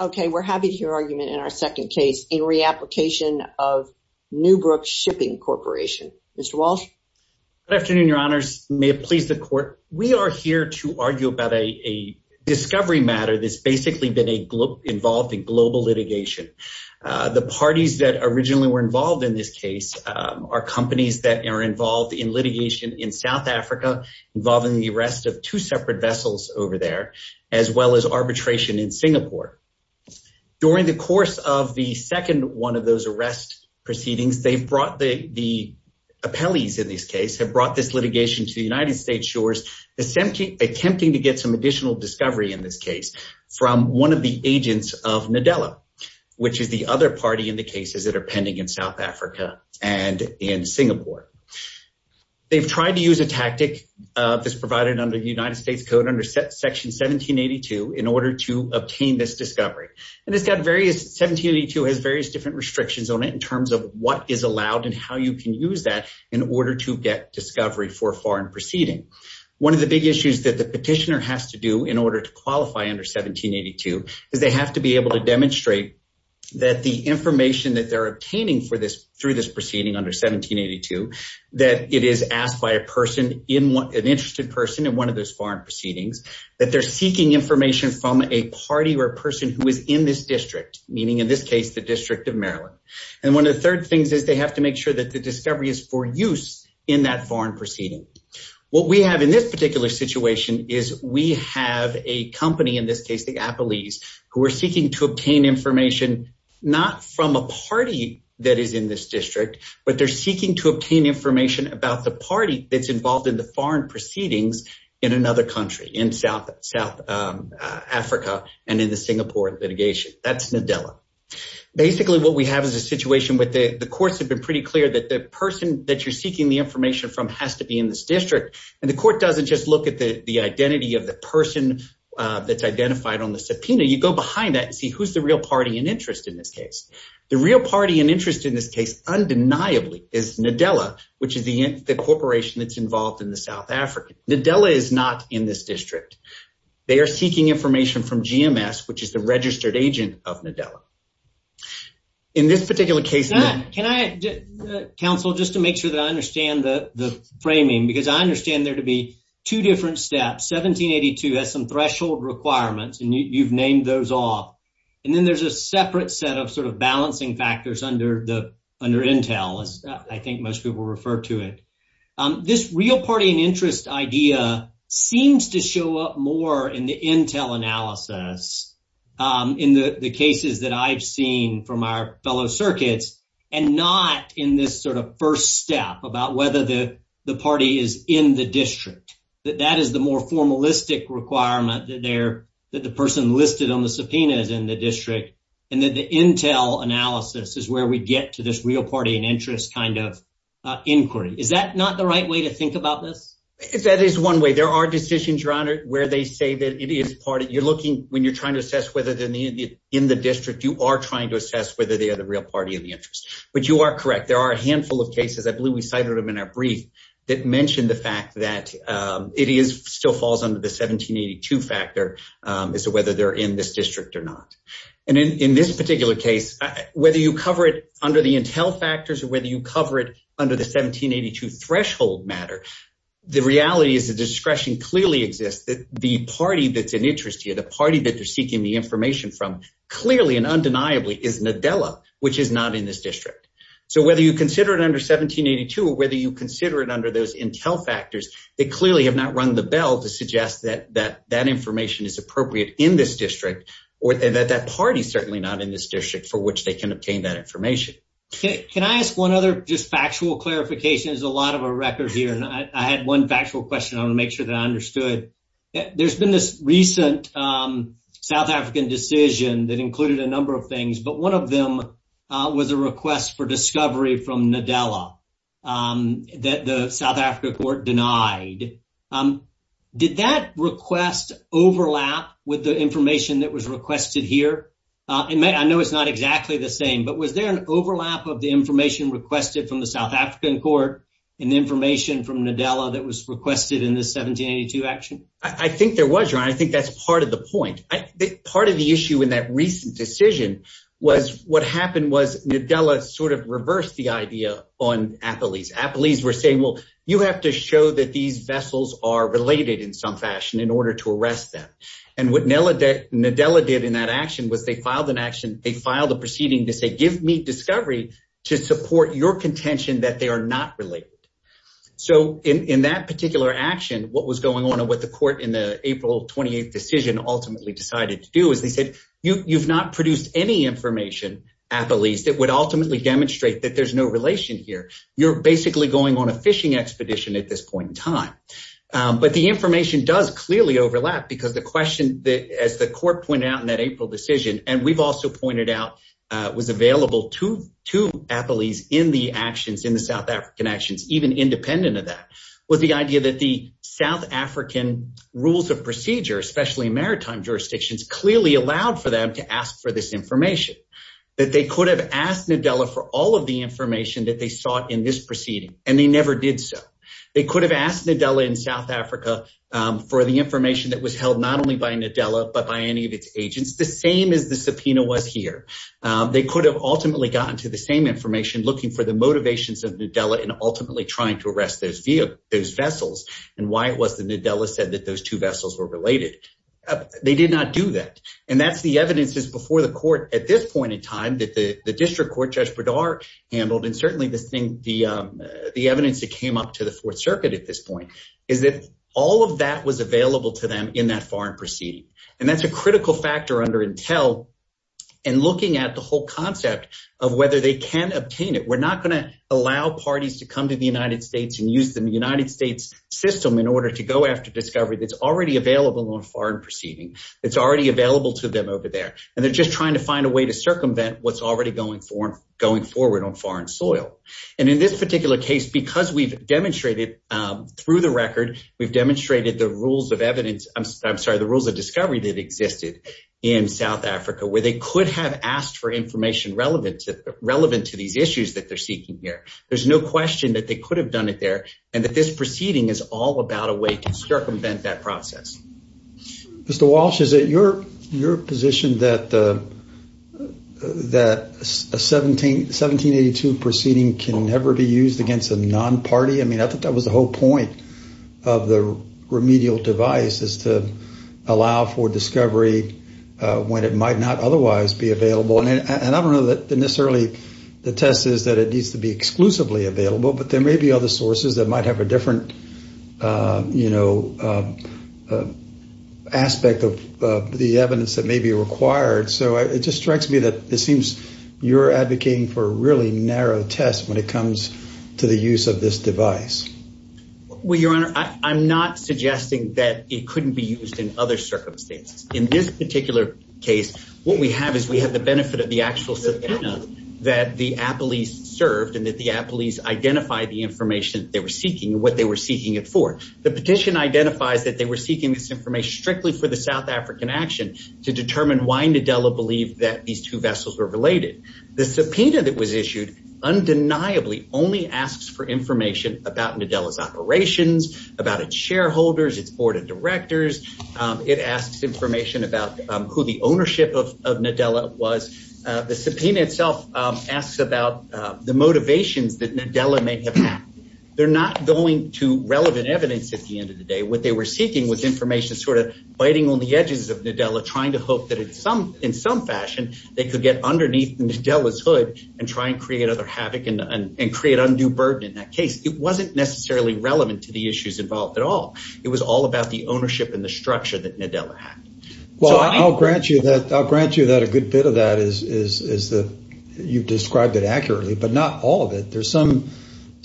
Okay, we're happy to hear argument in our second case in re-application of Newbrook Shipping Corporation. Mr. Walsh. Good afternoon, your honors. May it please the court. We are here to argue about a discovery matter that's basically been involved in global litigation. The parties that originally were involved in this case are companies that are involved in litigation in South Africa, involving the arrest of two separate vessels over there, as well as arbitration in Singapore. During the course of the second one of those arrest proceedings, they've brought the appellees in this case, have brought this litigation to the United States Shores, attempting to get some additional discovery in this case from one of the agents of Nadella, which is the other party in the cases that are pending in South Africa and in Singapore. They've tried to use a tactic that's provided under the United States Code under Section 1782 in order to obtain this discovery. And it's got various, 1782 has various different restrictions on it in terms of what is allowed and how you can use that in order to get discovery for a foreign proceeding. One of the big issues that the petitioner has to do in order to qualify under 1782 is they have to be able to demonstrate that the information that they're obtaining for this, through this proceeding under 1782, that it is asked by a person, an interested person in one of those foreign proceedings, that they're seeking information from a party or a person who is in this district, meaning in this case, the District of Maryland. And one of the third things is they have to make sure that the discovery is for use in that foreign proceeding. What we have in this particular situation is we have a company in this case, the appellees, who are seeking to obtain information, not from a party that is in this district, but they're seeking to obtain information about the party that's involved in the foreign proceedings in another country, in South Africa and in the Singapore litigation. That's Nadella. Basically, what we have is a situation where the courts have been pretty clear that the person that you're seeking the information from has to be in this district, and the court doesn't just look at the identity of the person that's identified on the subpoena. You go behind that and see who's the real party in interest in this case. The real party in interest in this case, undeniably, is Nadella, which is the corporation that's involved in the South Africa. Nadella is not in this district. They are seeking information from GMS, which is the registered agent of Nadella. In this particular case... Counsel, just to make sure that I understand the framing, because I understand there to be two different steps. 1782 has some threshold requirements, and you've named those off. And then there's a separate set of sort of balancing factors under Intel, as I think most people refer to it. This real party in interest idea seems to show up more in the Intel analysis in the cases that I've seen from our fellow circuits, and not in this sort of first step about whether the party is in the district. That that is the more formalistic requirement that the person listed on the subpoena is in the district, and that the Intel analysis is where we get to this real party in interest kind of inquiry. Is that not the right way to think about this? That is one way. There are decisions, Your Honor, where they say that it is part of... You're looking, when you're trying to assess whether they're in the district, you are trying to assess whether they are the real party in the interest. But you are correct. There are a handful of cases, I believe we cited them in our brief, that mention the fact that it still falls under the 1782 factor as to whether they're in this district or not. And in this particular case, whether you cover it under the Intel factors or whether you cover it under the 1782 threshold matter, the reality is the discretion clearly exists that the party that's in interest here, the party that they're seeking the information from, clearly and undeniably is Nadella, which is not in this district. So whether you consider it under 1782 or whether you consider it under those Intel factors, they clearly have not rung the bell to suggest that that information is appropriate in this district or that that party is certainly not in Can I ask one other just factual clarification? There's a lot of a record here and I had one factual question. I want to make sure that I understood. There's been this recent South African decision that included a number of things, but one of them was a request for discovery from Nadella that the South African court denied. Did that request overlap with the information that was requested here? I know it's not exactly the same, but was there an overlap of the information requested from the South African court and the information from Nadella that was requested in the 1782 action? I think there was, Ron. I think that's part of the point. Part of the issue in that recent decision was what happened was Nadella sort of reversed the idea on Apolis. Apolis were saying, well, you have to show that these vessels are related in some fashion in order to arrest them. And what Nadella did in that action was they filed an action. They filed a proceeding to say, give me discovery to support your contention that they are not related. So in that particular action, what was going on and what the court in the April 28th decision ultimately decided to do is they said, you've not produced any information, Apolis, that would ultimately demonstrate that there's no relation here. You're basically going on a fishing expedition at this point in time. But the information does clearly overlap because the question, as the court pointed out in that April decision, and we've also pointed out, was available to Apolis in the actions, in the South African actions, even independent of that, was the idea that the South African rules of procedure, especially maritime jurisdictions, clearly allowed for them to ask for this information. That they could have asked Nadella for all of the information that they sought in this proceeding, and they never did so. They could have asked Nadella in South Africa for the information that was held not only by Nadella, but by any of its agents, the same as the subpoena was here. They could have ultimately gotten to the same information, looking for the motivations of Nadella and ultimately trying to arrest those vessels and why it was that Nadella said that those two vessels were related. They did not do that. And that's the evidence that's before the court at this point in time that the district court, Judge Bredar, handled. And certainly the evidence that came up to the Fourth Circuit at this point is that all of that was available to them in that foreign proceeding. And that's a critical factor under Intel in looking at the whole concept of whether they can obtain it. We're not going to allow parties to come to the United States and use the United States system in order to go after discovery that's already available on foreign proceeding. It's already available to them over there, and they're just trying to find a way to circumvent what's already going forward on foreign soil. And in this particular case, because we've demonstrated through the record, we've demonstrated the rules of evidence. I'm sorry, the rules of discovery that existed in South Africa where they could have asked for information relevant to these issues that they're seeking here. There's no question that they could have done it there and that this proceeding is all about a way to circumvent that process. Mr. Walsh, is it your position that a 1782 proceeding can never be used against a non-party? I mean, I think that was the whole point of the remedial device is to allow for discovery when it might not otherwise be available. And I don't know that necessarily the test is that it needs to be exclusively available, but there may be other sources that might have a different, you know, aspect of the evidence that may be required. So it just strikes me that it seems you're advocating for a really narrow test when it comes to the use of this device. Well, Your Honor, I'm not suggesting that it couldn't be used in other circumstances. In this particular case, what we have is we have the benefit of the actual subpoena that the appellees served and that the appellees identify the information they were seeking and what they were seeking it for. The petition identifies that they were seeking this information strictly for the South African action to determine why Nadella believed that these two vessels were related. The subpoena that was issued undeniably only asks for information about Nadella's operations, about its shareholders, its board of directors. It asks information about who the ownership of Nadella was. The subpoena itself asks about the motivations that Nadella may have had. They're not going to relevant evidence at the end of the day. What they were seeking was information sort of biting on the edges of Nadella, trying to hope that in some fashion they could get underneath Nadella's hood and try and create other havoc and create undue burden in that case. It wasn't necessarily relevant to the issues involved at all. It was all about the ownership and the structure that Nadella had. Well, I'll grant you that a good bit of that is that you've described it accurately, but not all of it. There's some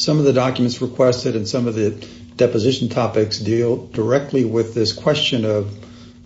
of the documents requested and some of the deposition topics deal directly with this question of,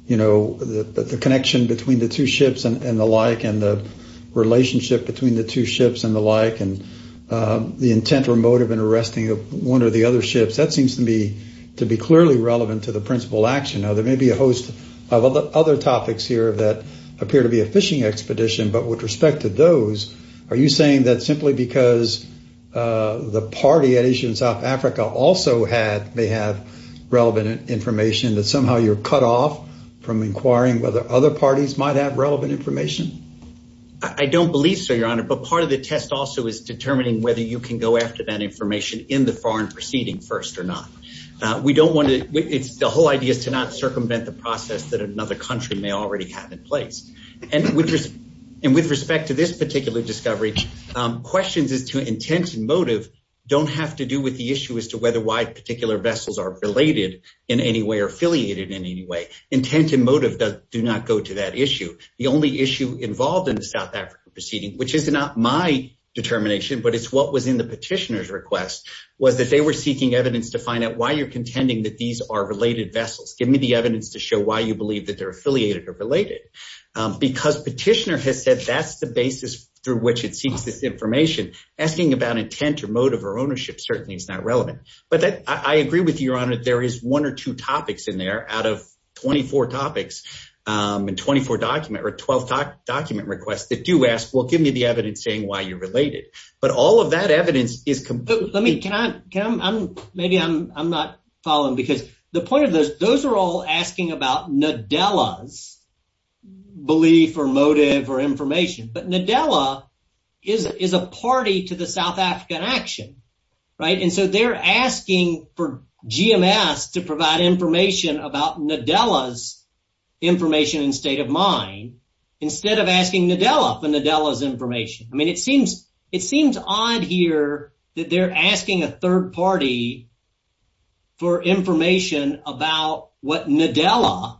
you know, the connection between the two ships and the like and the relationship between the two ships and the like and the intent or motive in arresting one or the other ships. That seems to me to be clearly relevant to the principal action. Now, there may be a host of other topics here that appear to be a fishing expedition, but with respect to those, are you saying that simply because the party at Asia and South Africa also may have relevant information that somehow you're cut off from inquiring whether other parties might have relevant information? I don't believe so, Your Honor, but part of the test also is determining whether you can go after that information in the foreign proceeding first or not. We don't want to. It's the whole idea is to not circumvent the process that another country may already have in place. And with respect to this particular discovery, questions as to intent and motive don't have to do with the issue as to whether wide particular vessels are related in any way or affiliated in any way. Intent and motive do not go to that issue. The only issue involved in the South African proceeding, which is not my determination, but it's what was in the petitioner's request, was that they were seeking evidence to find out why you're contending that these are related vessels. Give me the evidence to show why you believe that they're affiliated or related, because petitioner has said that's the basis through which it seeks this information. Asking about intent or motive or ownership certainly is not relevant. But I agree with you, Your Honor. There is one or two topics in there out of 24 topics and 24 document or 12 document requests that do ask, well, give me the evidence saying why you're related. But all of that evidence is. Let me, can I, maybe I'm not following, because the point of this, those are all asking about Nadella's belief or motive or information. But Nadella is a party to the South African action. Right. And so they're asking for GMS to provide information about Nadella's information and state of mind instead of asking Nadella for Nadella's information. I mean, it seems it seems odd here that they're asking a third party for information about what Nadella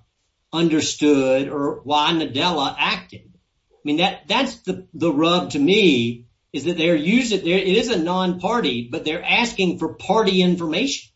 understood or why Nadella acted. I mean, that that's the rub to me is that they're using it is a non-party, but they're asking for party information.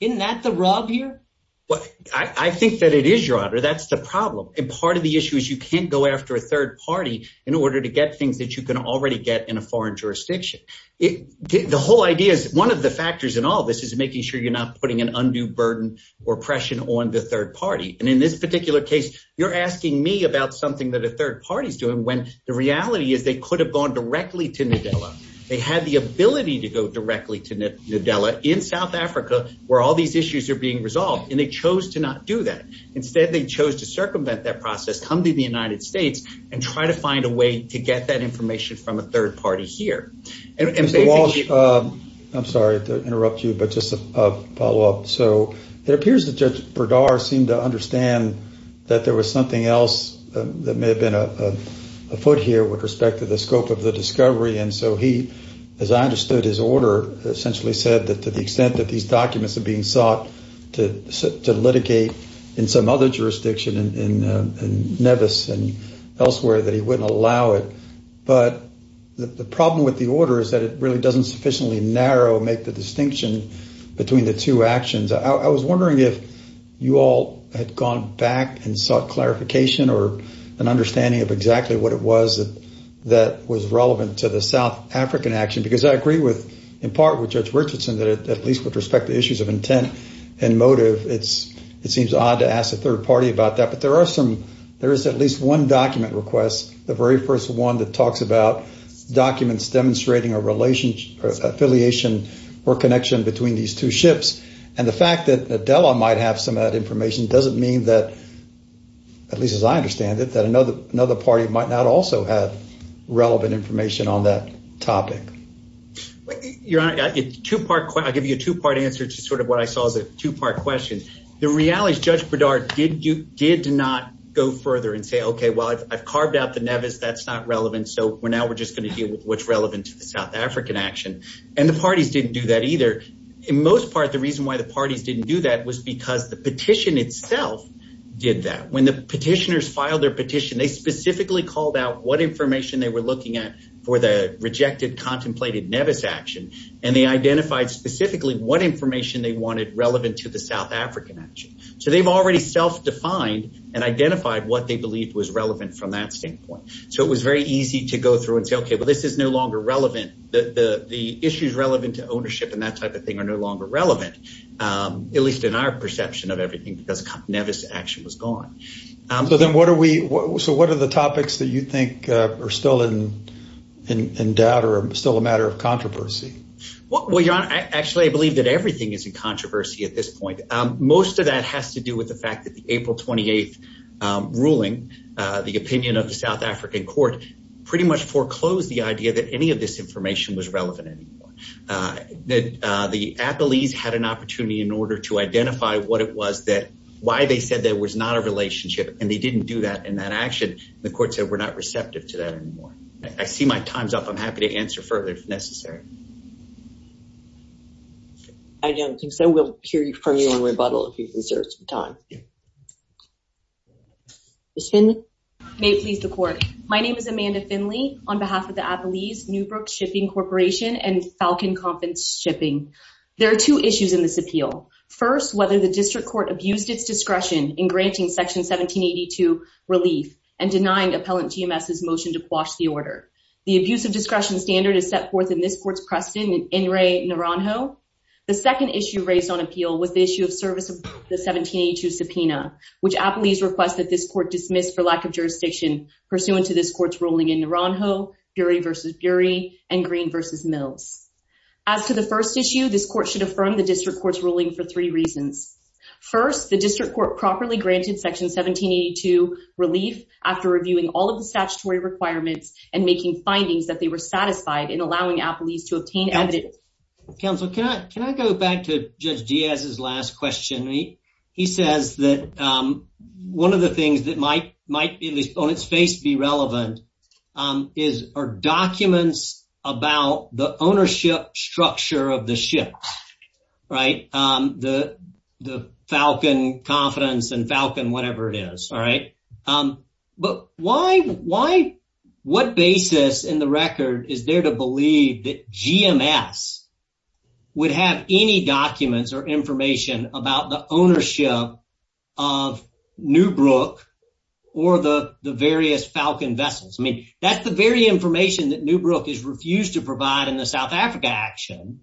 Isn't that the rub here? Well, I think that it is, Your Honor. That's the problem. And part of the issue is you can't go after a third party in order to get things that you can already get in a foreign jurisdiction. The whole idea is one of the factors in all this is making sure you're not putting an undue burden or pressure on the third party. And in this particular case, you're asking me about something that a third party is doing when the reality is they could have gone directly to Nadella. They had the ability to go directly to Nadella in South Africa where all these issues are being resolved. And they chose to not do that. Instead, they chose to circumvent that process, come to the United States and try to find a way to get that information from a third party here. I'm sorry to interrupt you, but just a follow up. So it appears that Judge Berdar seemed to understand that there was something else that may have been afoot here with respect to the scope of the discovery. And so he, as I understood his order, essentially said that to the extent that these documents are being sought to litigate in some other jurisdiction in Nevis and elsewhere, that he wouldn't allow it. But the problem with the order is that it really doesn't sufficiently narrow, make the distinction between the two actions. I was wondering if you all had gone back and sought clarification or an understanding of exactly what it was that was relevant to the South African action. Because I agree with, in part with Judge Richardson, that at least with respect to issues of intent and motive, it seems odd to ask a third party about that. But there are some, there is at least one document request, the very first one that talks about documents demonstrating a relationship, affiliation or connection between these two ships. And the fact that Adela might have some of that information doesn't mean that, at least as I understand it, that another another party might not also have relevant information on that topic. Your Honor, I'll give you a two part answer to sort of what I saw as a two part question. The reality is Judge Bedard did not go further and say, OK, well, I've carved out the Nevis. That's not relevant. So now we're just going to deal with what's relevant to the South African action. And the parties didn't do that either. In most part, the reason why the parties didn't do that was because the petition itself did that. When the petitioners filed their petition, they specifically called out what information they were looking at for the rejected, contemplated Nevis action. And they identified specifically what information they wanted relevant to the South African action. So they've already self-defined and identified what they believed was relevant from that standpoint. So it was very easy to go through and say, OK, well, this is no longer relevant. The issues relevant to ownership and that type of thing are no longer relevant, at least in our perception of everything, because Nevis action was gone. So then what are we, so what are the topics that you think are still in doubt or still a matter of controversy? Well, Your Honor, actually, I believe that everything is in controversy at this point. Most of that has to do with the fact that the April 28th ruling, the opinion of the South African court, pretty much foreclosed the idea that any of this information was relevant anymore. That the appellees had an opportunity in order to identify what it was that why they said there was not a relationship and they didn't do that in that action. The court said we're not receptive to that anymore. I see my time's up. I'm happy to answer further if necessary. I don't think so. We'll hear from you in rebuttal if you can serve some time. Ms. Finley? May it please the court. My name is Amanda Finley on behalf of the Appellees, Newbrook Shipping Corporation and Falcon Conference Shipping. There are two issues in this appeal. First, whether the district court abused its discretion in granting Section 1782 relief and denying appellant TMS's motion to quash the order. The abuse of discretion standard is set forth in this court's precedent in Enri Naranjo. The second issue raised on appeal was the issue of service of the 1782 subpoena, which appellees request that this court dismiss for lack of jurisdiction pursuant to this court's ruling in Naranjo, Bury v. Bury and Green v. Mills. As to the first issue, this court should affirm the district court's ruling for three reasons. First, the district court properly granted Section 1782 relief after reviewing all of the statutory requirements and making findings that they were satisfied in allowing appellees to obtain evidence. Counsel, can I can I go back to Judge Diaz's last question? He says that one of the things that might might be on its face be relevant is our documents about the ownership structure of the ship. Right. The the Falcon Confidence and Falcon, whatever it is. All right. But why why what basis in the record is there to believe that GMS would have any documents or information about the ownership of Newbrook or the various Falcon vessels? I mean, that's the very information that Newbrook has refused to provide in the South Africa action.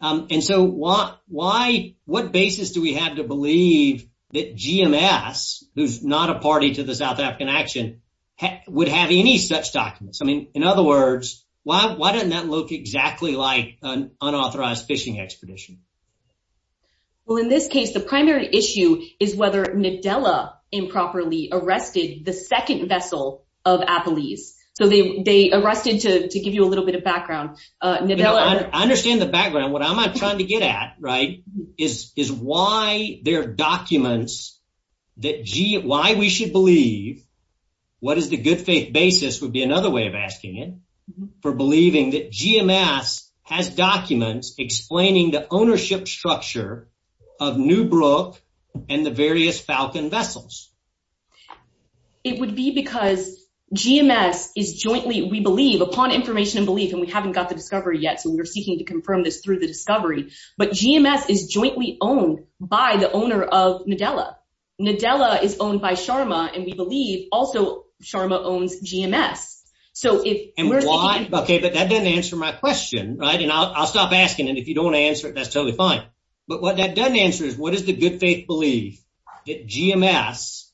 And so why why what basis do we have to believe that GMS, who's not a party to the South African action, would have any such documents? I mean, in other words, why why doesn't that look exactly like an unauthorized fishing expedition? Well, in this case, the primary issue is whether Nadella improperly arrested the second vessel of appellees. So they arrested to give you a little bit of background. Nadella. I understand the background. What I'm trying to get at, right, is is why there are documents that why we should believe what is the good faith basis would be another way of asking it for believing that GMS has documents explaining the ownership structure of Newbrook and the various Falcon vessels. It would be because GMS is jointly, we believe upon information and belief, and we haven't got the discovery yet. So we're seeking to confirm this through the discovery. But GMS is jointly owned by the owner of Nadella. Nadella is owned by Sharma. And we believe also Sharma owns GMS. So if and why. OK, but that doesn't answer my question. Right. And I'll stop asking. And if you don't answer it, that's totally fine. But what that doesn't answer is what is the good faith belief that GMS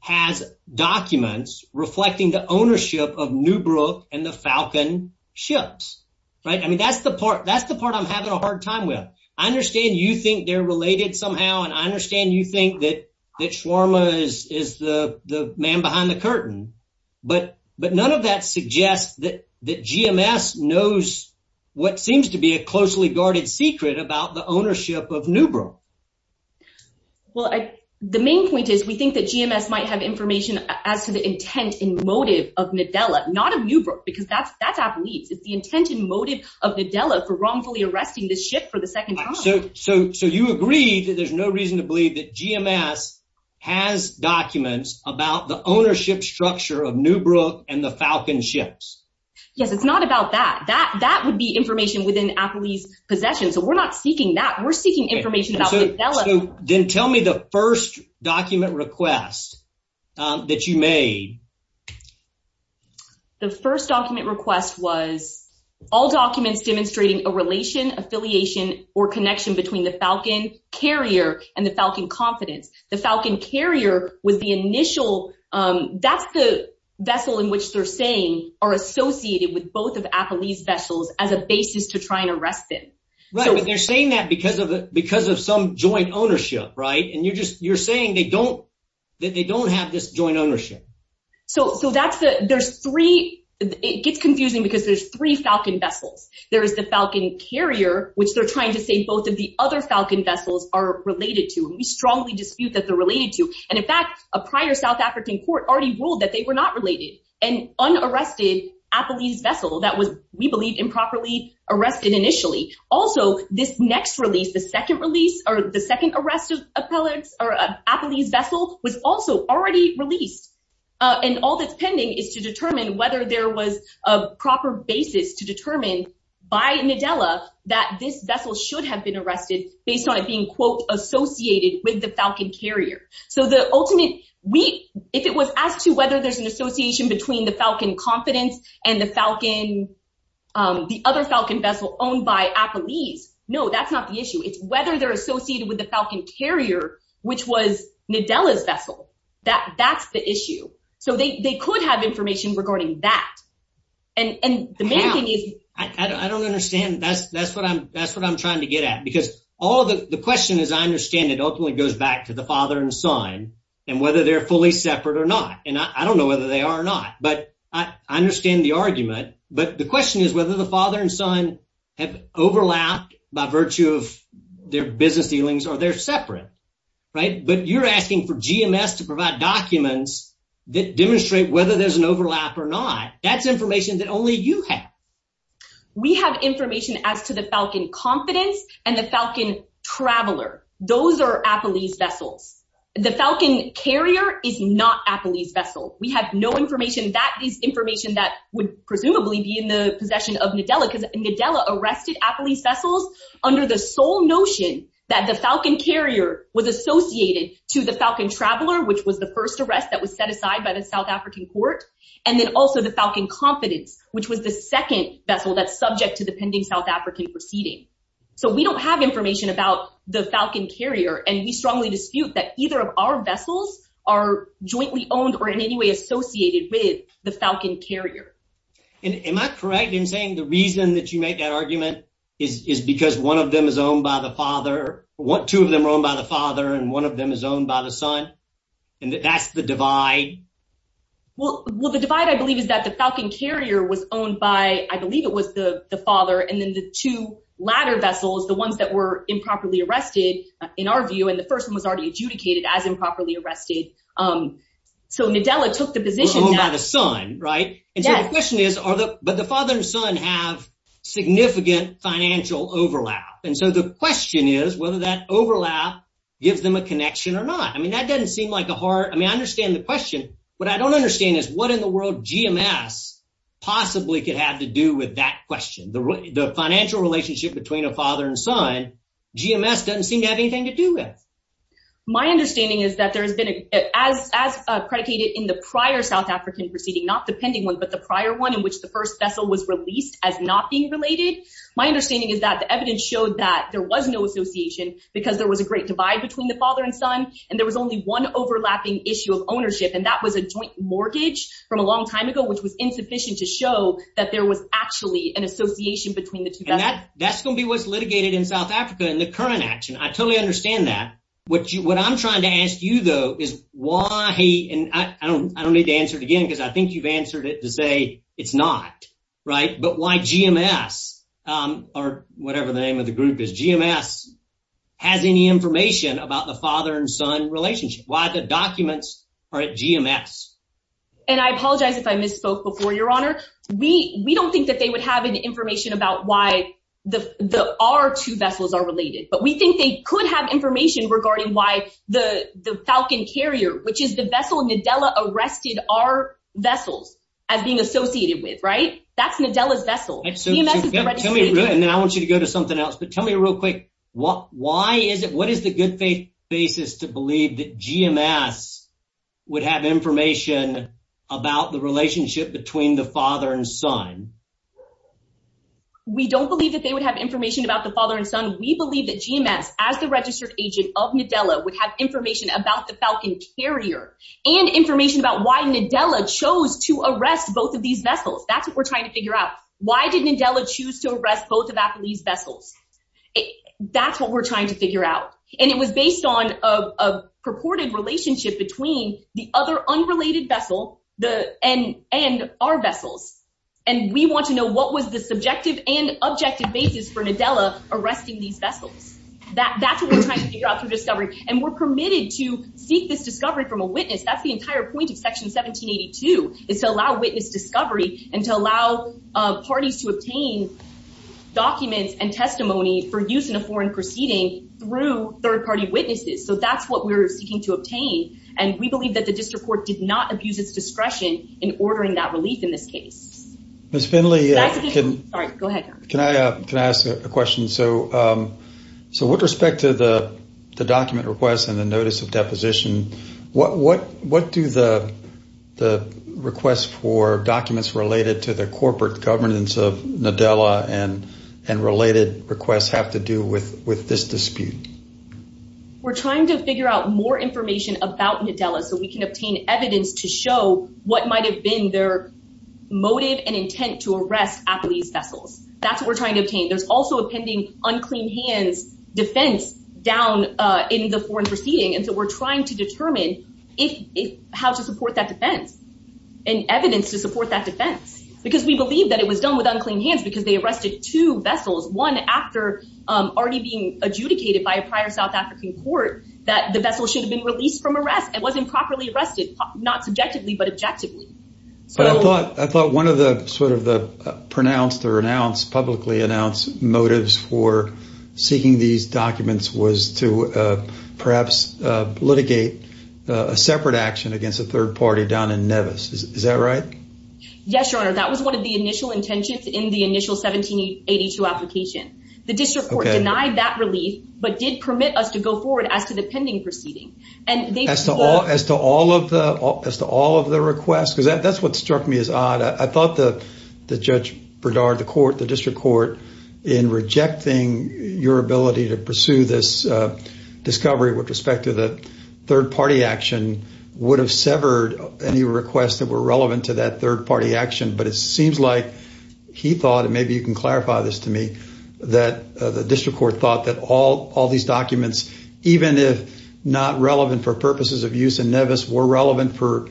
has documents reflecting the ownership of Newbrook and the Falcon ships. Right. I mean, that's the part that's the part I'm having a hard time with. I understand you think they're related somehow, and I understand you think that that Sharma is the man behind the curtain. But but none of that suggests that that GMS knows what seems to be a closely guarded secret about the ownership of Newbrook. Well, the main point is we think that GMS might have information as to the intent and motive of Nadella, not of Newbrook, because that's that's our belief. It's the intent and motive of Nadella for wrongfully arresting the ship for the second time. So so so you agree that there's no reason to believe that GMS has documents about the ownership structure of Newbrook and the Falcon ships. Yes, it's not about that. That that would be information within Apple's possession. So we're not seeking that. We're seeking information about Nadella. Then tell me the first document request that you made. The first document request was all documents demonstrating a relation, affiliation or connection between the Falcon carrier and the Falcon confidence. The Falcon carrier was the initial. That's the vessel in which they're saying are associated with both of Apple's vessels as a basis to try and arrest them. Right. But they're saying that because of the because of some joint ownership. Right. And you're just you're saying they don't that they don't have this joint ownership. So so that's the there's three. It gets confusing because there's three Falcon vessels. There is the Falcon carrier, which they're trying to say both of the other Falcon vessels are related to. We strongly dispute that they're related to. And in fact, a prior South African court already ruled that they were not related. And unarrested Apple's vessel that was, we believe, improperly arrested initially. Also, this next release, the second release or the second arrest of appellate or Apple's vessel was also already released. And all that's pending is to determine whether there was a proper basis to determine by Nadella that this vessel should have been arrested based on it being, quote, associated with the Falcon carrier. So the ultimate week, if it was as to whether there's an association between the Falcon confidence and the Falcon, the other Falcon vessel owned by Apple's. No, that's not the issue. It's whether they're associated with the Falcon carrier, which was Nadella's vessel. That that's the issue. So they could have information regarding that. I don't understand. That's that's what I'm that's what I'm trying to get at, because all the question is, I understand it ultimately goes back to the father and son and whether they're fully separate or not. And I don't know whether they are or not, but I understand the argument. But the question is whether the father and son have overlapped by virtue of their business dealings or they're separate. Right. But you're asking for GMS to provide documents that demonstrate whether there's an overlap or not. That's information that only you have. We have information as to the Falcon confidence and the Falcon traveler. Those are Apple's vessels. The Falcon carrier is not Apple's vessel. We have no information that is information that would presumably be in the possession of Nadella because Nadella arrested Apple's vessels under the sole notion that the Falcon carrier was associated to the Falcon traveler, which was the first arrest that was set aside by the South African court. And then also the Falcon confidence, which was the second vessel that's subject to the pending South African proceeding. So we don't have information about the Falcon carrier. And we strongly dispute that either of our vessels are jointly owned or in any way associated with the Falcon carrier. And am I correct in saying the reason that you make that argument is because one of them is owned by the father. What two of them are owned by the father and one of them is owned by the son. And that's the divide. Well, the divide, I believe, is that the Falcon carrier was owned by, I believe it was the father. And then the two latter vessels, the ones that were improperly arrested, in our view, and the first one was already adjudicated as improperly arrested. So Nadella took the position by the son. Right. And the question is, are the but the father and son have significant financial overlap. And so the question is whether that overlap gives them a connection or not. I mean, that doesn't seem like a hard. I mean, I understand the question, but I don't understand is what in the world GMS possibly could have to do with that question. The financial relationship between a father and son, GMS doesn't seem to have anything to do with. My understanding is that there has been as as predicated in the prior South African proceeding, not the pending one, but the prior one in which the first vessel was released as not being related. My understanding is that the evidence showed that there was no association because there was a great divide between the father and son. And there was only one overlapping issue of ownership. And that was a joint mortgage from a long time ago, which was insufficient to show that there was actually an association between the two. And that that's going to be what's litigated in South Africa in the current action. I totally understand that. What what I'm trying to ask you, though, is why. And I don't I don't need to answer it again because I think you've answered it to say it's not right. But why GMS or whatever the name of the group is, GMS has any information about the father and son relationship, why the documents are at GMS? And I apologize if I misspoke before, Your Honor. We we don't think that they would have any information about why the the our two vessels are related. But we think they could have information regarding why the the Falcon carrier, which is the vessel Nadella arrested our vessels as being associated with. Right. That's Nadella's vessel. So tell me. And then I want you to go to something else. But tell me real quick, what why is it what is the good faith basis to believe that GMS would have information about the relationship between the father and son? We don't believe that they would have information about the father and son. We believe that GMS, as the registered agent of Nadella, would have information about the Falcon carrier and information about why Nadella chose to arrest both of these vessels. That's what we're trying to figure out. Why did Nadella choose to arrest both of these vessels? That's what we're trying to figure out. And it was based on a purported relationship between the other unrelated vessel, the end and our vessels. And we want to know what was the subjective and objective basis for Nadella arresting these vessels that that's what we're trying to figure out through discovery. And we're permitted to seek this discovery from a witness. That's the entire point of Section 1782 is to allow witness discovery and to allow parties to obtain documents and testimony for use in a foreign proceeding through third party witnesses. So that's what we're seeking to obtain. And we believe that the district court did not abuse its discretion in ordering that relief in this case. Ms. Finley, can I ask a question? So so with respect to the document requests and the notice of deposition, what what what do the the requests for documents related to the corporate governance of Nadella and and related requests have to do with with this dispute? We're trying to figure out more information about Nadella so we can obtain evidence to show what might have been their motive and intent to arrest these vessels. That's what we're trying to obtain. There's also a pending unclean hands defense down in the foreign proceeding. And so we're trying to determine if how to support that defense and evidence to support that defense, because we believe that it was done with unclean hands because they arrested two vessels. One after already being adjudicated by a prior South African court that the vessel should have been released from arrest. It wasn't properly arrested, not subjectively, but objectively. So I thought I thought one of the sort of the pronounced or announced publicly announced motives for seeking these documents was to perhaps litigate a separate action against a third party down in Nevis. Is that right? Yes, your honor. That was one of the initial intentions in the initial 1782 application. The district denied that relief, but did permit us to go forward as to the pending proceeding. And as to all as to all of the as to all of the requests, because that's what struck me as odd. I thought that the judge, Berdard, the court, the district court in rejecting your ability to pursue this discovery with respect to the third party action would have severed any requests that were relevant to that third party action. But it seems like he thought, and maybe you can clarify this to me, that the district court thought that all all these documents, even if not relevant for purposes of use in Nevis, were relevant for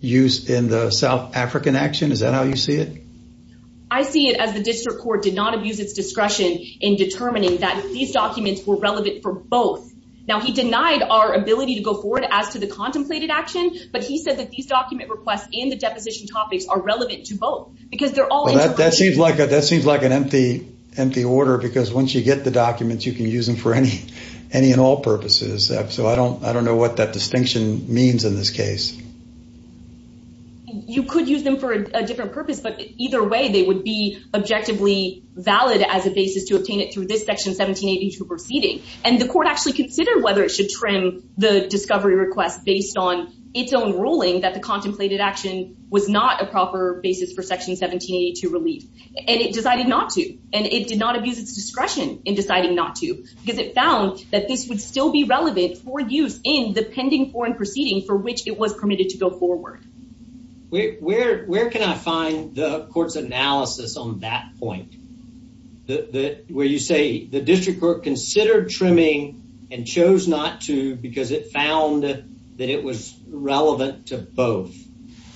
use in the South African action. Is that how you see it? I see it as the district court did not abuse its discretion in determining that these documents were relevant for both. Now, he denied our ability to go forward as to the contemplated action, but he said that these document requests in the deposition topics are relevant to both because they're all. That seems like that seems like an empty, empty order, because once you get the documents, you can use them for any any and all purposes. So I don't I don't know what that distinction means in this case. You could use them for a different purpose, but either way, they would be objectively valid as a basis to obtain it through this section 1782 proceeding. And the court actually considered whether it should trim the discovery request based on its own ruling that the contemplated action was not a proper basis for section 1782 relief. And it decided not to. And it did not abuse its discretion in deciding not to, because it found that this would still be relevant for use in the pending foreign proceeding for which it was permitted to go forward. Where can I find the court's analysis on that point that where you say the district court considered trimming and chose not to because it found that it was relevant to both?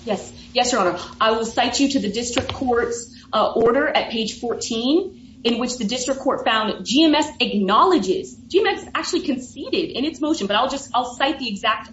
Yes. Yes, your honor. I will cite you to the district court's order at page 14, in which the district court found that GMS acknowledges GMS actually conceded in its motion. But I'll just I'll cite the exact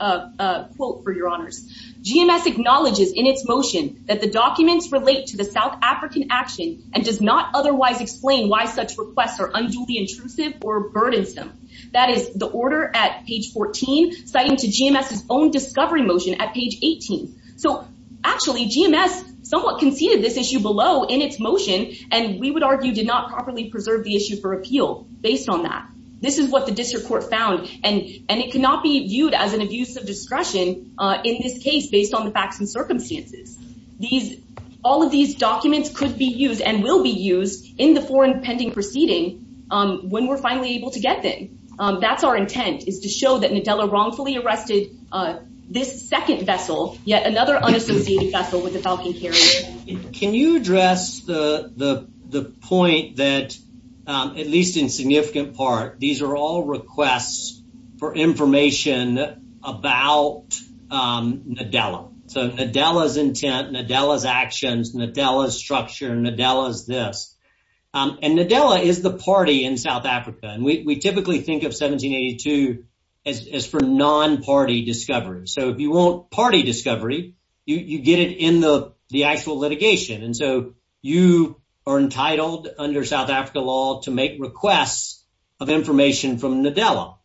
quote for your honors. GMS acknowledges in its motion that the documents relate to the South African action and does not otherwise explain why such requests are unduly intrusive or burdensome. That is the order at page 14, citing to GMS's own discovery motion at page 18. So actually, GMS somewhat conceded this issue below in its motion, and we would argue did not properly preserve the issue for appeal based on that. This is what the district court found, and it cannot be viewed as an abuse of discretion in this case based on the facts and circumstances. These all of these documents could be used and will be used in the foreign pending proceeding when we're finally able to get them. That's our intent, is to show that Nadella wrongfully arrested this second vessel, yet another unassociated vessel with the falcon carrier. Can you address the point that, at least in significant part, these are all requests for information about Nadella? So Nadella's intent, Nadella's actions, Nadella's structure, Nadella's this. And Nadella is the party in South Africa, and we typically think of 1782 as for non-party discovery. So if you want party discovery, you get it in the actual litigation. And so you are entitled under South Africa law to make requests of information from Nadella.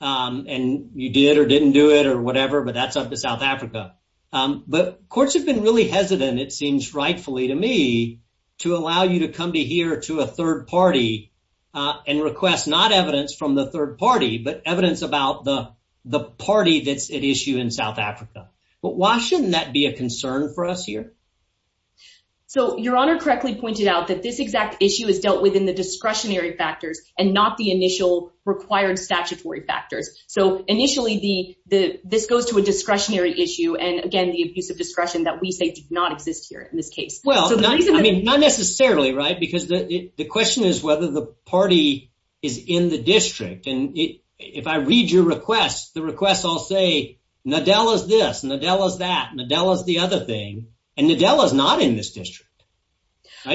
And you did or didn't do it or whatever, but that's up to South Africa. But courts have been really hesitant, it seems rightfully to me, to allow you to come to here to a third party and request not evidence from the third party, but evidence about the party that's at issue in South Africa. But why shouldn't that be a concern for us here? So Your Honor correctly pointed out that this exact issue is dealt with in the discretionary factors and not the initial required statutory factors. So initially, this goes to a discretionary issue, and again, the abuse of discretion that we say did not exist here in this case. Well, not necessarily, right? Because the question is whether the party is in the district. And if I read your request, the request I'll say, Nadella's this, Nadella's that, Nadella's the other thing, and Nadella's not in this district.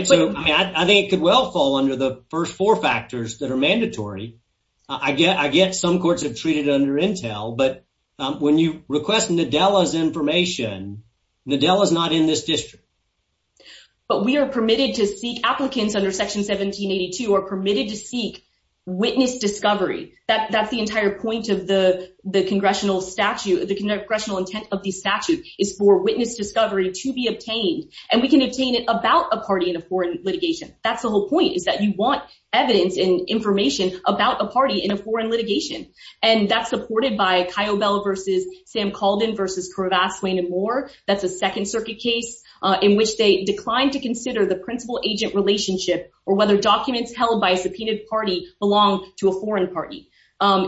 So I think it could well fall under the first four factors that are mandatory. I get some courts have treated it under intel, but when you request Nadella's information, Nadella's not in this district. But we are permitted to seek, applicants under Section 1782 are permitted to seek witness discovery. That's the entire point of the congressional statute. The congressional intent of the statute is for witness discovery to be obtained, and we can obtain it about a party in a foreign litigation. That's the whole point, is that you want evidence and information about a party in a foreign litigation. And that's supported by Kyobel v. Sam Calden v. Corvass, Swain, and Moore. That's a Second Circuit case in which they declined to consider the principal-agent relationship or whether documents held by a subpoenaed party belong to a foreign party.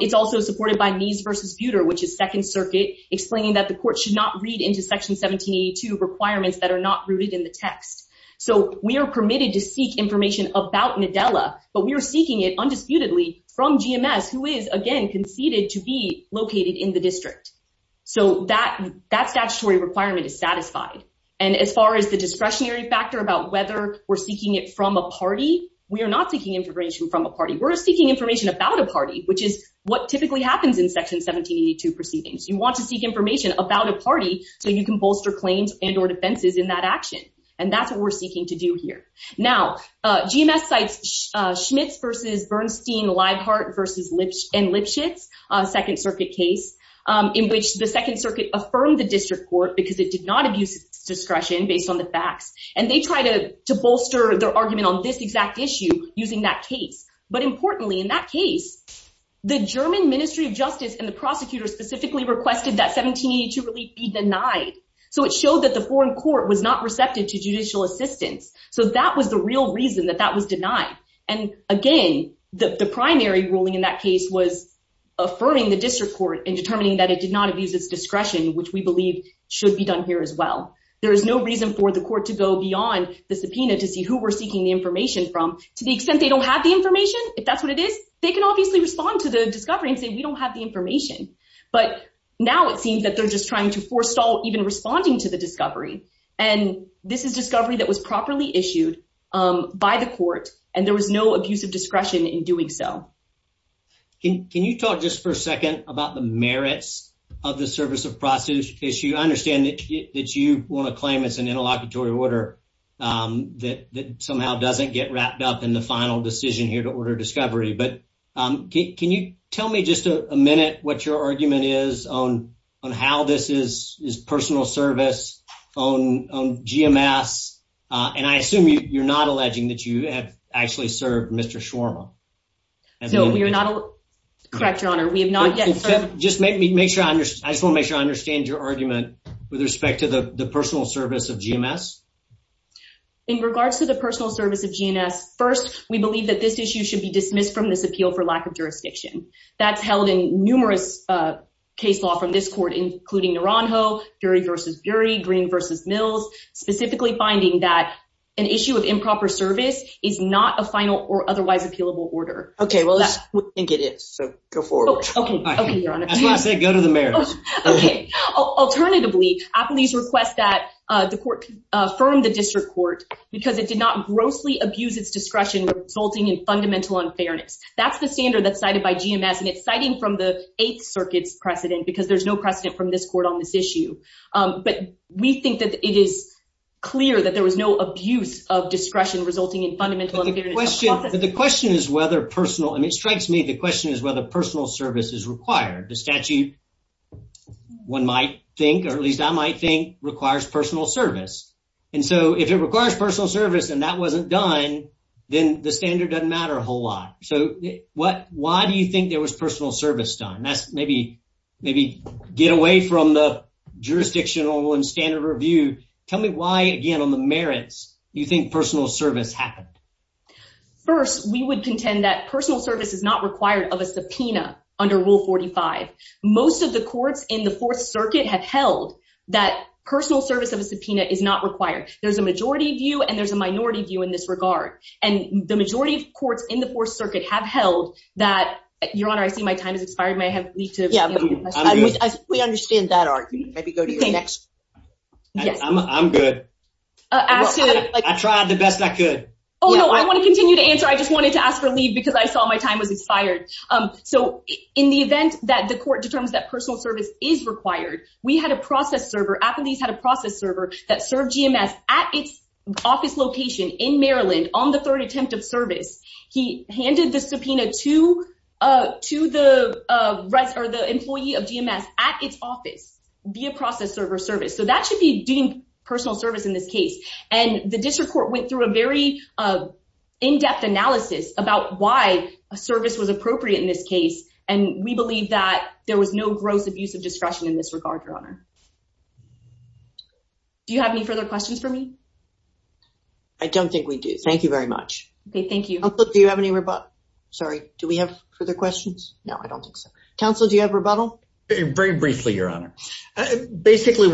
It's also supported by Mies v. Buter, which is Second Circuit, explaining that the court should not read into Section 1782 requirements that are not rooted in the text. So we are permitted to seek information about Nadella, but we are seeking it undisputedly from GMS, who is, again, conceded to be located in the district. So that statutory requirement is satisfied. And as far as the discretionary factor about whether we're seeking it from a party, we are not seeking information from a party. We're seeking information about a party, which is what typically happens in Section 1782 proceedings. You want to seek information about a party so you can bolster claims and or defenses in that action. And that's what we're seeking to do here. Now, GMS cites Schmitz v. Bernstein-Leibhardt v. Lipschitz, Second Circuit case, in which the Second Circuit affirmed the district court because it did not abuse its discretion based on the facts. And they tried to bolster their argument on this exact issue using that case. But importantly, in that case, the German Ministry of Justice and the prosecutor specifically requested that 1782 relief be denied. So it showed that the foreign court was not receptive to judicial assistance. So that was the real reason that that was denied. And, again, the primary ruling in that case was affirming the district court and determining that it did not abuse its discretion, which we believe should be done here as well. There is no reason for the court to go beyond the subpoena to see who we're seeking the information from. To the extent they don't have the information, if that's what it is, they can obviously respond to the discovery and say, we don't have the information. But now it seems that they're just trying to forestall even responding to the discovery. And this is discovery that was properly issued by the court, and there was no abuse of discretion in doing so. Can you talk just for a second about the merits of the service of prostitution issue? I understand that you want to claim it's an interlocutory order that somehow doesn't get wrapped up in the final decision here to order discovery. But can you tell me just a minute what your argument is on how this is personal service on GMS? And I assume you're not alleging that you have actually served Mr. Schwarma. No, we are not. Correct, Your Honor, we have not yet. Just make sure I just want to make sure I understand your argument with respect to the personal service of GMS. In regards to the personal service of GMS, first, we believe that this issue should be dismissed from this appeal for lack of jurisdiction. That's held in numerous case law from this court, including Naranjo, Dury v. Dury, Green v. Mills, specifically finding that an issue of improper service is not a final or otherwise appealable order. OK, well, that's what I think it is. So go for it. Go to the mayor. Alternatively, please request that the court affirm the district court because it did not grossly abuse its discretion resulting in fundamental unfairness. That's the standard that's cited by GMS. And it's citing from the Eighth Circuit's precedent because there's no precedent from this court on this issue. But we think that it is clear that there was no abuse of discretion resulting in fundamental question. The question is whether personal and it strikes me the question is whether personal service is required. The statute one might think or at least I might think requires personal service. And so if it requires personal service and that wasn't done, then the standard doesn't matter a whole lot. So what why do you think there was personal service done? That's maybe maybe get away from the jurisdictional and standard review. Tell me why, again, on the merits, you think personal service happened. First, we would contend that personal service is not required of a subpoena under Rule 45. Most of the courts in the Fourth Circuit have held that personal service of a subpoena is not required. There's a majority view and there's a minority view in this regard. And the majority of courts in the Fourth Circuit have held that. Your Honor, I see my time has expired. May I have. We understand that argument. Maybe go to the next. I'm good. I tried the best I could. Oh, no, I want to continue to answer. I just wanted to ask for leave because I saw my time was expired. So in the event that the court determines that personal service is required, we had a process server. Applebee's had a process server that served GMS at its office location in Maryland on the third attempt of service. He handed the subpoena to the employee of GMS at its office via process server service. So that should be deemed personal service in this case. And the district court went through a very in-depth analysis about why a service was appropriate in this case. And we believe that there was no gross abuse of discretion in this regard, Your Honor. Do you have any further questions for me? I don't think we do. Thank you very much. Thank you. Do you have any rebuttal? Sorry. Do we have further questions? No, I don't think so. Counsel, do you have rebuttal? Very briefly, Your Honor. Basically,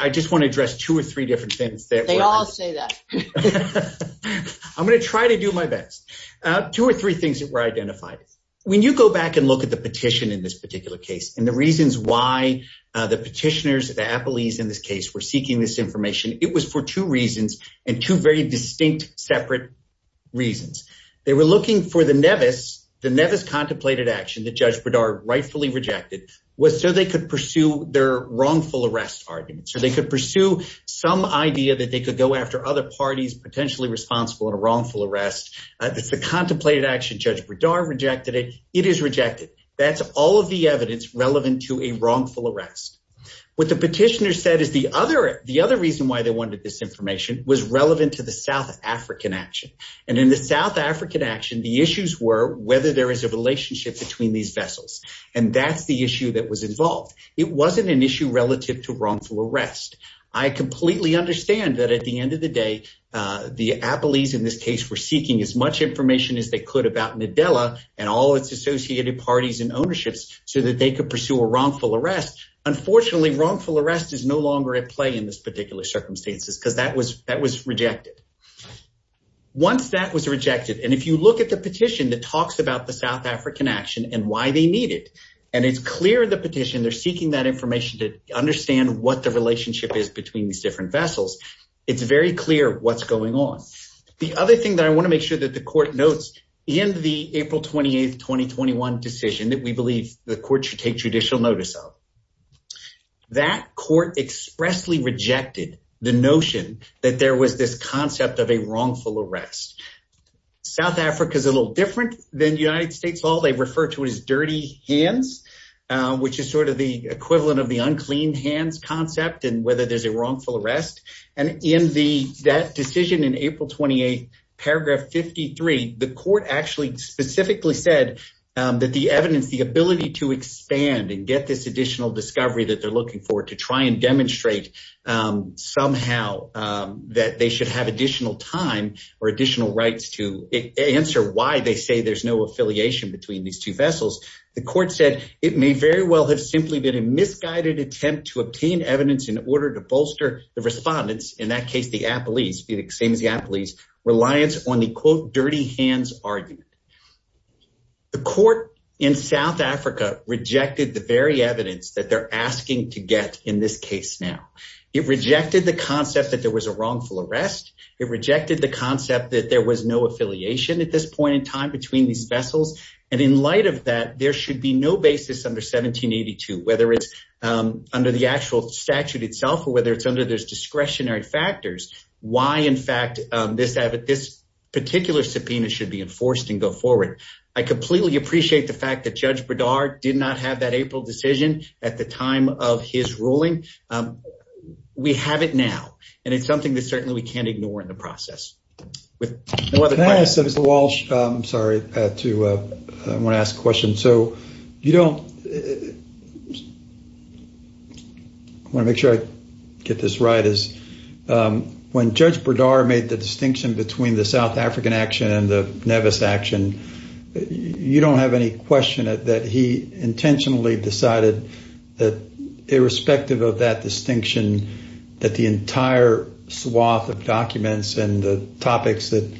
I just want to address two or three different things. They all say that I'm going to try to do my best. Two or three things that were identified. When you go back and look at the petition in this particular case and the reasons why the petitioners, the appellees in this case were seeking this information, it was for two reasons and two very distinct separate reasons. They were looking for the Nevis. The Nevis contemplated action that Judge Berdard rightfully rejected was so they could pursue their wrongful arrest arguments. They could pursue some idea that they could go after other parties potentially responsible in a wrongful arrest. It's a contemplated action. Judge Berdard rejected it. It is rejected. That's all of the evidence relevant to a wrongful arrest. What the petitioner said is the other the other reason why they wanted this information was relevant to the South African action. And in the South African action, the issues were whether there is a relationship between these vessels. And that's the issue that was involved. It wasn't an issue relative to wrongful arrest. I completely understand that at the end of the day, the appellees in this case were seeking as much information as they could about Nadella and all its associated parties and ownerships so that they could pursue a wrongful arrest. Unfortunately, wrongful arrest is no longer at play in this particular circumstances because that was that was rejected. Once that was rejected, and if you look at the petition that talks about the South African action and why they need it, and it's clear in the petition, they're seeking that information to understand what the relationship is between these different vessels. It's very clear what's going on. The other thing that I want to make sure that the court notes in the April 28th, 2021 decision that we believe the court should take judicial notice of. That court expressly rejected the notion that there was this concept of a wrongful arrest. South Africa is a little different than the United States. All they refer to is dirty hands, which is sort of the equivalent of the unclean hands concept and whether there's a wrongful arrest. And in that decision in April 28th, paragraph 53, the court actually specifically said that the evidence, the ability to expand and get this additional discovery that they're looking for to try and demonstrate somehow that they should have additional time or additional rights to answer why they say there's no affiliation between these two vessels. The court said it may very well have simply been a misguided attempt to obtain evidence in order to bolster the respondents. In that case, the appellees, the same as the appellees, reliance on the, quote, dirty hands argument. The court in South Africa rejected the very evidence that they're asking to get in this case. Now, it rejected the concept that there was a wrongful arrest. It rejected the concept that there was no affiliation at this point in time between these vessels. And in light of that, there should be no basis under 1782, whether it's under the actual statute itself or whether it's under those discretionary factors. Why, in fact, this this particular subpoena should be enforced and go forward. I completely appreciate the fact that Judge Berdard did not have that April decision at the time of his ruling. We have it now. And it's something that certainly we can't ignore in the process with the wall. I'm sorry to ask a question. So you don't. I want to make sure I get this right is when Judge Berdard made the distinction between the South African action and the Nevis action. You don't have any question that he intentionally decided that irrespective of that distinction, that the entire swath of documents and the topics that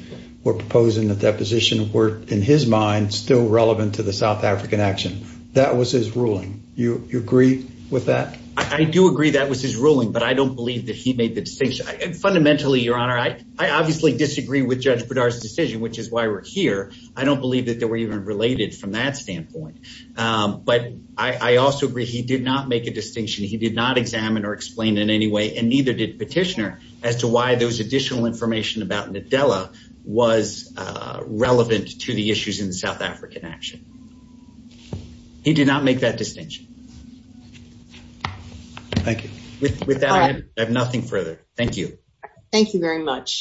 were proposed in the deposition were in his mind still relevant to the South African action. That was his ruling. You agree with that? I do agree. That was his ruling. But I don't believe that he made the distinction. Fundamentally, Your Honor. I obviously disagree with Judge Berdard's decision, which is why we're here. I don't believe that they were even related from that standpoint. But I also agree. He did not make a distinction. He did not examine or explain in any way. And neither did petitioner as to why those additional information about Nadella was relevant to the issues in the South African action. He did not make that distinction. Thank you. With that, I have nothing further. Thank you. Thank you very much.